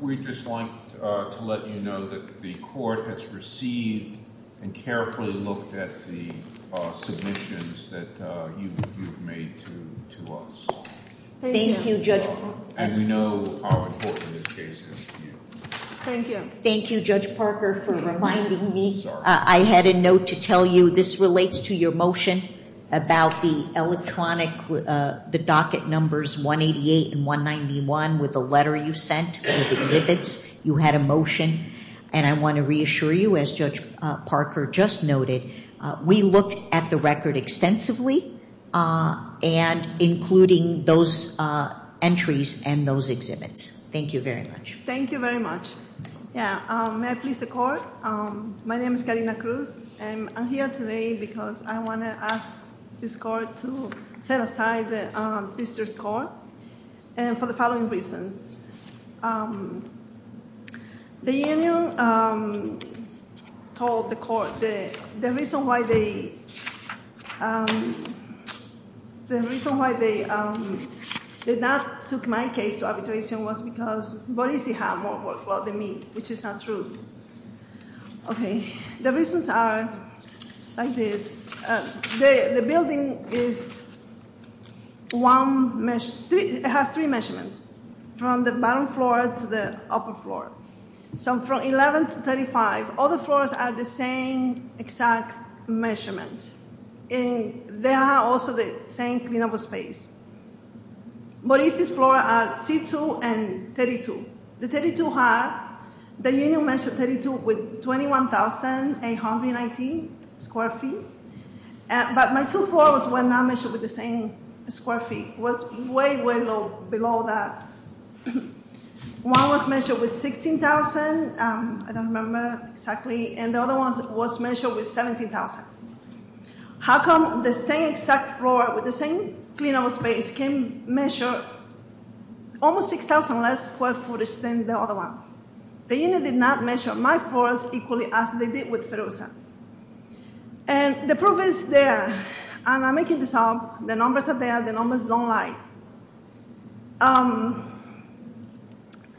We'd just like to let you know that the court has received and carefully looked at the submissions that you've made to us. Thank you, Judge Parker. And we know how important this case is to you. Thank you. Thank you, Judge Parker, for reminding me. Sorry. I had a note to tell you this relates to your motion about the electronic, the docket numbers 188 and 191 with the letter you sent with exhibits. You had a motion. And I want to reassure you, as Judge Parker just noted, we looked at the record extensively and including those entries and those exhibits. Thank you very much. Thank you very much. Yeah. May I please record? My name is Karina Cruz. I'm here today because I want to ask this court to set aside the district court for the following reasons. The union told the court the reason why they did not suit my case to arbitration was because Boris had more work well than me, which is not true. Okay. The reasons are like this. The building has three measurements, from the bottom floor to the upper floor. So from 11 to 35, all the floors are the same exact measurements. And they are also the same clean-up of space. Boris' floor are C2 and 32. The 32 had, the union measured 32 with 21,890 square feet. But my two floors were not measured with the same square feet. It was way, way below that. One was measured with 16,000. I don't remember exactly. And the other one was measured with 17,000. How come the same exact floor with the same clean-up of space can measure almost 6,000 less square footage than the other one? The union did not measure my floors equally as they did with Feroza. And the proof is there. And I'm making this up. The numbers are there. The numbers don't lie.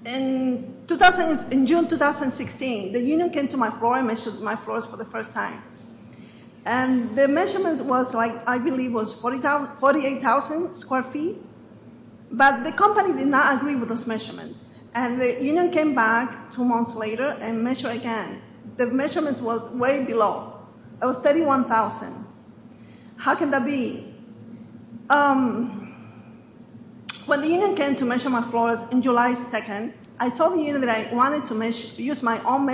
In June 2016, the union came to my floor and measured my floors for the first time. And the measurement was like, I believe, was 48,000 square feet. But the company did not agree with those measurements. And the union came back two months later and measured again. The measurement was way below. It was 31,000. How can that be? When the union came to measure my floors in July 2nd, I told the union that I wanted to use my own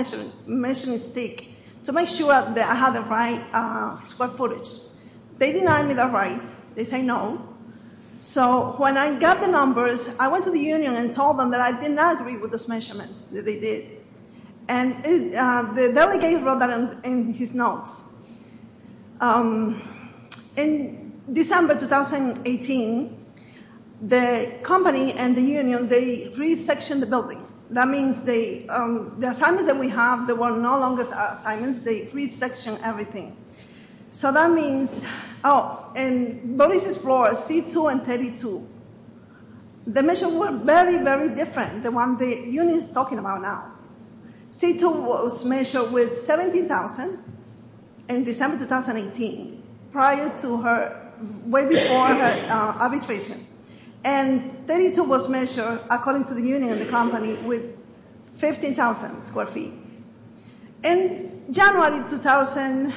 measuring stick to make sure that I had the right square footage. They denied me the right. They said no. So when I got the numbers, I went to the union and told them that I did not agree with those measurements that they did. And the delegate wrote that in his notes. In December 2018, the company and the union, they resectioned the building. That means the assignments that we have, they were no longer assignments. They resectioned everything. So that means, oh, and Boris' floors, C2 and 32, the measurements were very, very different than what the union is talking about now. C2 was measured with 17,000 in December 2018, prior to her, way before her arbitration. And 32 was measured, according to the union and the company, with 15,000 square feet. In February 2019,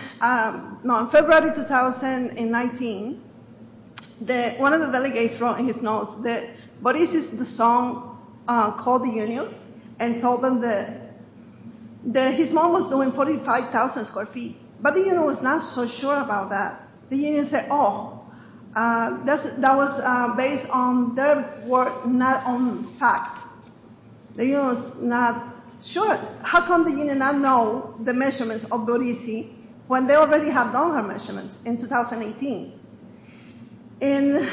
one of the delegates wrote in his notes that Boris' son called the union and told them that his mom was doing 45,000 square feet. But the union was not so sure about that. The union said, oh, that was based on their work, not on facts. The union was not sure. How come the union not know the measurements of Boris' when they already have done her measurements in 2018? And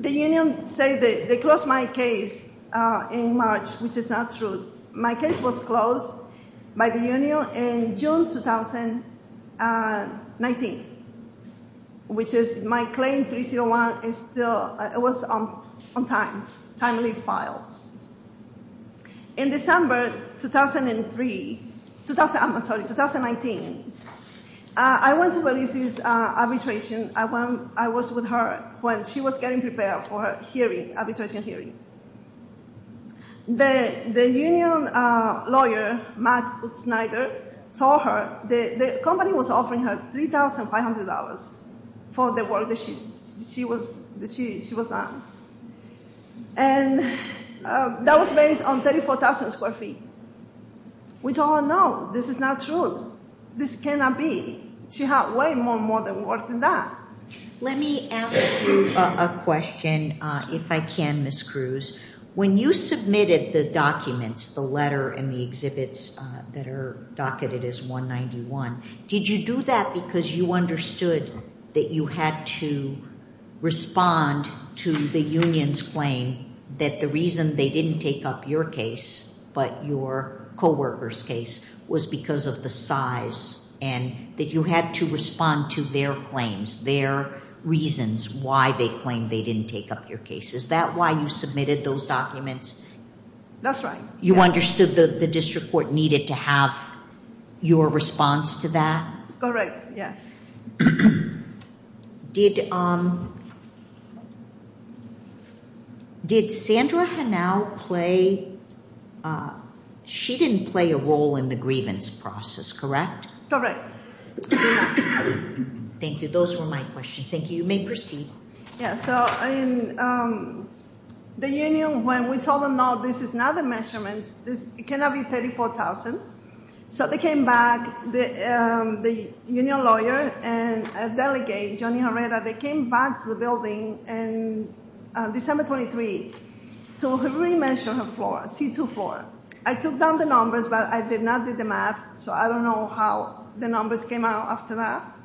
the union said they closed my case in March, which is not true. My case was closed by the union in June 2019, which is my claim 301 is still, it was on time. Timely file. In December 2003, I'm sorry, 2019, I went to Boris' arbitration. I was with her when she was getting prepared for her hearing, arbitration hearing. The union lawyer, Matt Snyder, saw her. The company was offering her $3,500 for the work that she was done. And that was based on 34,000 square feet. We told her, no, this is not true. This cannot be. She had way more work than that. Let me ask you a question, if I can, Ms. Cruz. When you submitted the documents, the letter and the exhibits that are docketed as 191, did you do that because you understood that you had to respond to the union's claim that the reason they didn't take up your case, but your coworker's case was because of the size and that you had to respond to their claims, their reasons why they claimed they didn't take up your case. Is that why you submitted those documents? That's right. You understood that the district court needed to have your response to that? Correct, yes. Did Sandra Hanau play ñ she didn't play a role in the grievance process, correct? Correct. Thank you. Those were my questions. Thank you. You may proceed. Yes. So the union, when we told them, no, this is not the measurements, it cannot be 34,000. So they came back, the union lawyer and a delegate, Johnny Herrera, they came back to the building on December 23 to re-measure her floor, C2 floor. I took down the numbers, but I did not do the math, so I don't know how the numbers came out after that.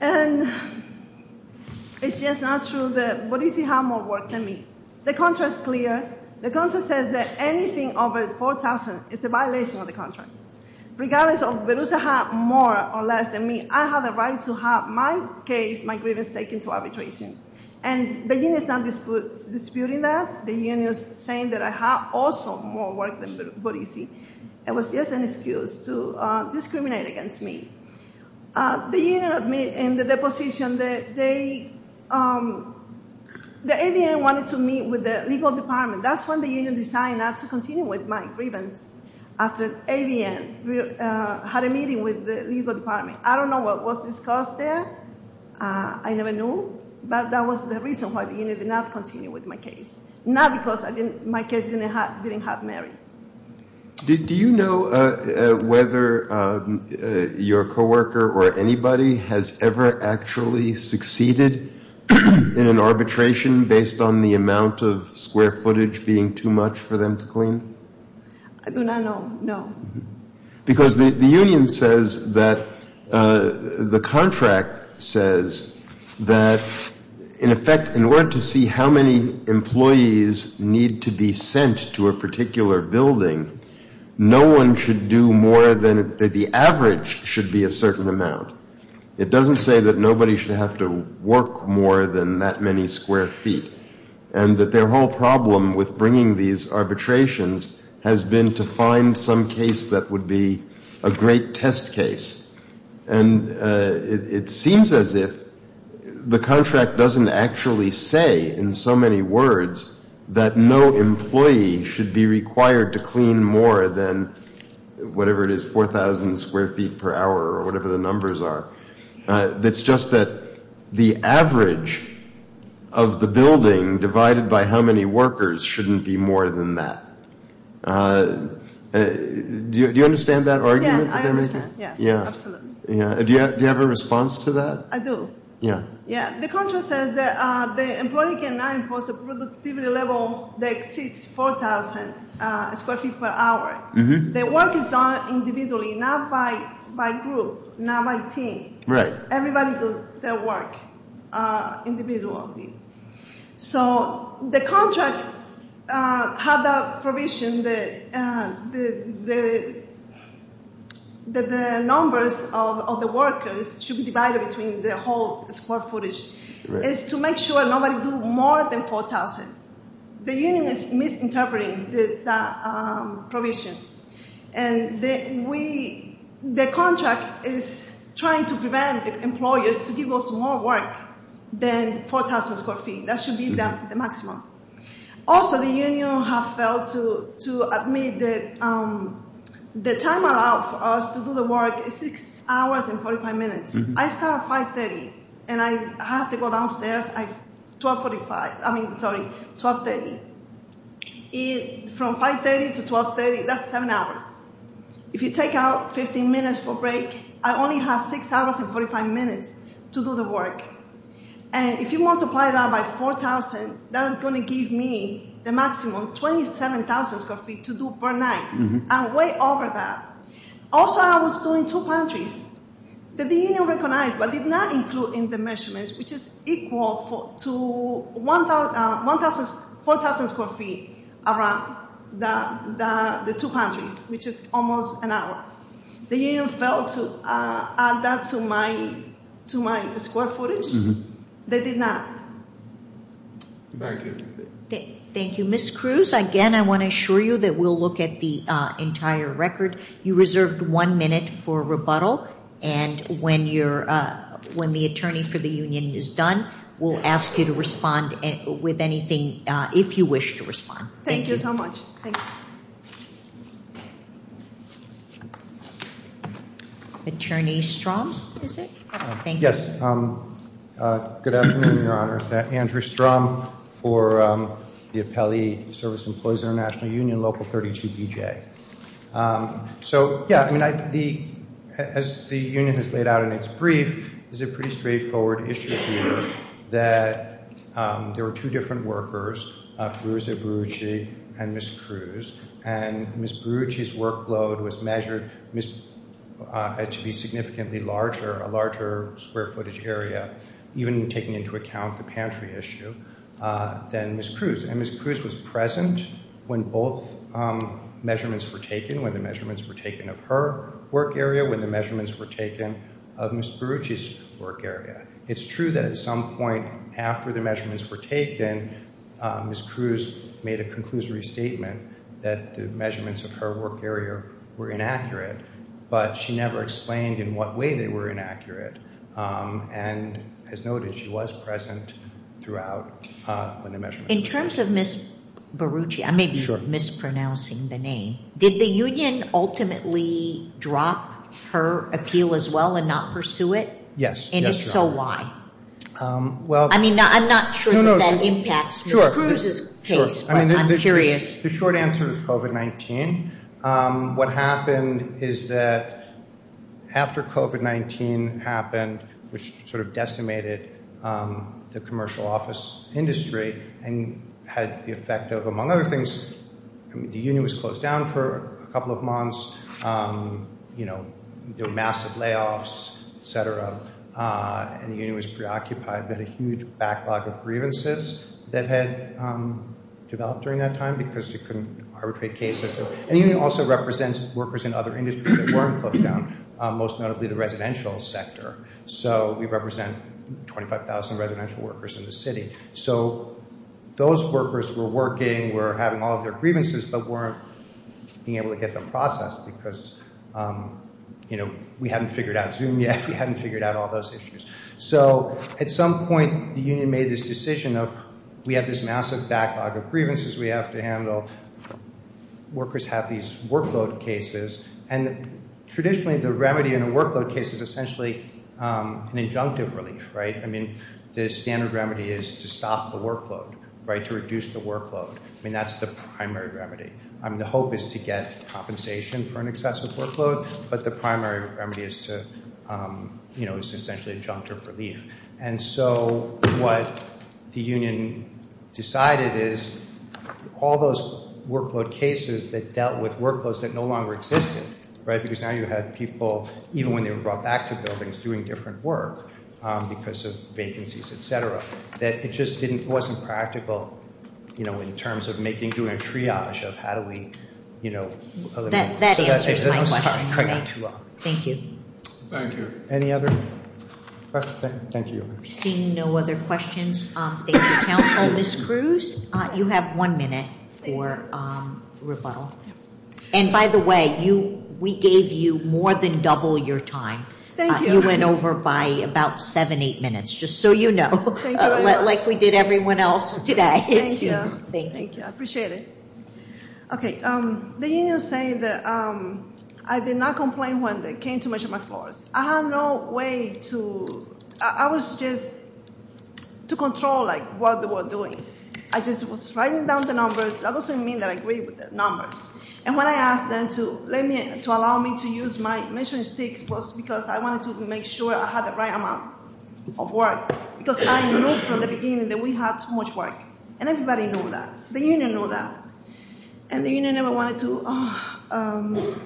And it's just not true. What do you see how more work than me? The contract's clear. The contract says that anything over 4,000 is a violation of the contract. Regardless of if Berusa has more or less than me, I have a right to have my case, my grievance, taken to arbitration. And the union is not disputing that. The union is saying that I have also more work than Berusa. It was just an excuse to discriminate against me. The union admitted in the deposition that they, the ADN wanted to meet with the legal department. That's when the union decided not to continue with my grievance after ADN had a meeting with the legal department. I don't know what was discussed there. I never knew. But that was the reason why the union did not continue with my case, not because my case didn't have merit. Do you know whether your coworker or anybody has ever actually succeeded in an arbitration based on the amount of square footage being too much for them to clean? No. Because the union says that the contract says that, in effect, in order to see how many employees need to be sent to a particular building, no one should do more than the average should be a certain amount. It doesn't say that nobody should have to work more than that many square feet. And that their whole problem with bringing these arbitrations has been to find some case that would be a great test case. And it seems as if the contract doesn't actually say in so many words that no employee should be required to clean more than whatever it is, 4,000 square feet per hour or whatever the numbers are. It's just that the average of the building divided by how many workers shouldn't be more than that. Do you understand that argument? Yeah, I understand. Yeah. Absolutely. Do you have a response to that? I do. Yeah. The contract says that the employee cannot impose a productivity level that exceeds 4,000 square feet per hour. The work is done individually, not by group, not by team. Right. Everybody does their work individually. So the contract has a provision that the numbers of the workers should be divided between the whole square footage. Right. It's to make sure nobody do more than 4,000. The union is misinterpreting that provision. And the contract is trying to prevent employers to give us more work than 4,000 square feet. That should be the maximum. Also, the union has failed to admit that the time allowed for us to do the work is 6 hours and 45 minutes. I start at 5.30, and I have to go downstairs at 12.45. I mean, sorry, 12.30. From 5.30 to 12.30, that's seven hours. If you take out 15 minutes for break, I only have 6 hours and 45 minutes to do the work. And if you multiply that by 4,000, that's going to give me the maximum, 27,000 square feet to do per night. I'm way over that. Also, I was doing two pantries that the union recognized but did not include in the measurements, which is equal to 4,000 square feet around the two pantries, which is almost an hour. The union failed to add that to my square footage. They did not. Thank you. Thank you. Ms. Cruz, again, I want to assure you that we'll look at the entire record. You reserved one minute for rebuttal, and when the attorney for the union is done, we'll ask you to respond with anything, if you wish to respond. Thank you. Thank you so much. Attorney Strom, is it? Yes. Good afternoon, Your Honor. Andrew Strom for the Appellee Service Employees International Union, Local 32BJ. So, yeah, I mean, as the union has laid out in its brief, there's a pretty straightforward issue here that there were two different workers, Feruza Berucci and Ms. Cruz, and Ms. Berucci's workload was measured to be significantly larger, a larger square footage area, even taking into account the pantry issue, than Ms. Cruz. And Ms. Cruz was present when both measurements were taken, when the measurements were taken of her work area, when the measurements were taken of Ms. Berucci's work area. It's true that at some point after the measurements were taken, Ms. Cruz made a conclusory statement that the measurements of her work area were inaccurate, but she never explained in what way they were inaccurate and has noted she was present throughout when the measurements were taken. In terms of Ms. Berucci, I may be mispronouncing the name, did the union ultimately drop her appeal as well and not pursue it? Yes. And if so, why? I mean, I'm not sure that that impacts Ms. Cruz's case, but I'm curious. The short answer is COVID-19. What happened is that after COVID-19 happened, which sort of decimated the commercial office industry and had the effect of, among other things, the union was closed down for a couple of months, massive layoffs, et cetera, and the union was preoccupied with a huge backlog of grievances that had developed during that time because you couldn't arbitrate cases. And the union also represents workers in other industries that weren't closed down, most notably the residential sector. So we represent 25,000 residential workers in the city. So those workers were working, were having all of their grievances, but weren't being able to get them processed because, you know, we hadn't figured out Zoom yet. We hadn't figured out all those issues. So at some point the union made this decision of we have this massive backlog of grievances. We have to handle—workers have these workload cases, and traditionally the remedy in a workload case is essentially an injunctive relief, right? I mean, the standard remedy is to stop the workload, right, to reduce the workload. I mean, that's the primary remedy. I mean, the hope is to get compensation for an excessive workload, but the primary remedy is to—you know, is essentially injunctive relief. And so what the union decided is all those workload cases that dealt with workloads that no longer existed, right, because now you have people, even when they were brought back to buildings, doing different work because of vacancies, et cetera, that it just wasn't practical, you know, in terms of making—doing a triage of how do we, you know— That answers my question. Thank you. Thank you. Any other—thank you. Seeing no other questions, thank you, counsel. Ms. Cruz, you have one minute for rebuttal. And by the way, we gave you more than double your time. Thank you. You went over by about seven, eight minutes, just so you know, like we did everyone else today. Thank you. I appreciate it. Okay. The union is saying that I did not complain when they came to measure my floors. I had no way to—I was just to control, like, what they were doing. I just was writing down the numbers. That doesn't mean that I agree with the numbers. And when I asked them to let me—to allow me to use my measuring sticks was because I wanted to make sure I had the right amount of work because I knew from the beginning that we had too much work, and everybody knew that. The union knew that. And the union never wanted to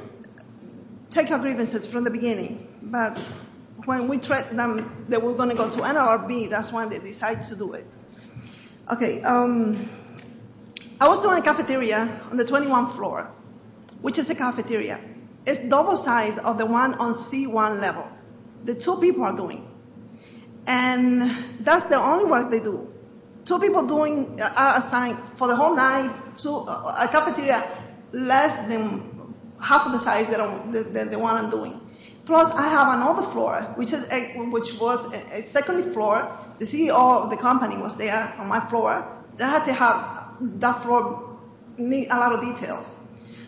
take our grievances from the beginning. But when we threatened them that we were going to go to NLRB, that's when they decided to do it. Okay. I was doing a cafeteria on the 21th floor, which is a cafeteria. It's double size of the one on C1 level that two people are doing. And that's the only work they do. Two people doing—are assigned for the whole night to a cafeteria less than half of the size than the one I'm doing. Plus, I have another floor, which was a second floor. The CEO of the company was there on my floor. They had to have—that floor need a lot of details.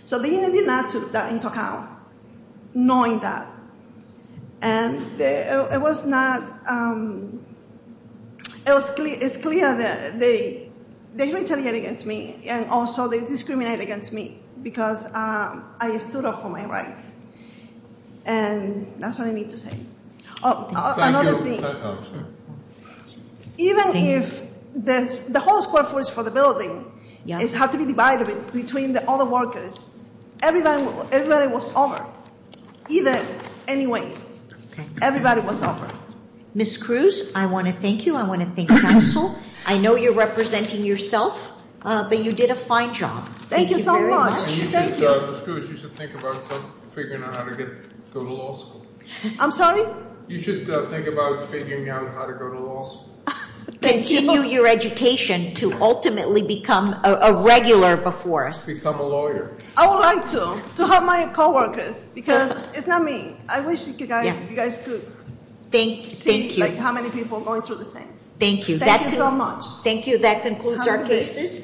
So the union did not take that into account, knowing that. And it was not—it's clear that they retaliated against me, and also they discriminated against me because I stood up for my rights, and that's what I need to say. Thank you. Even if the whole square footage for the building had to be divided between all the workers, everybody was over, even—anyway, everybody was over. Ms. Cruz, I want to thank you. I want to thank counsel. I know you're representing yourself, but you did a fine job. Thank you so much. Thank you. Ms. Cruz, you should think about figuring out how to go to law school. I'm sorry? You should think about figuring out how to go to law school. Continue your education to ultimately become a regular before us. I would like to, to help my coworkers because it's not me. I wish you guys could see how many people are going through the same. Thank you. Thank you so much. Thank you. That concludes our case.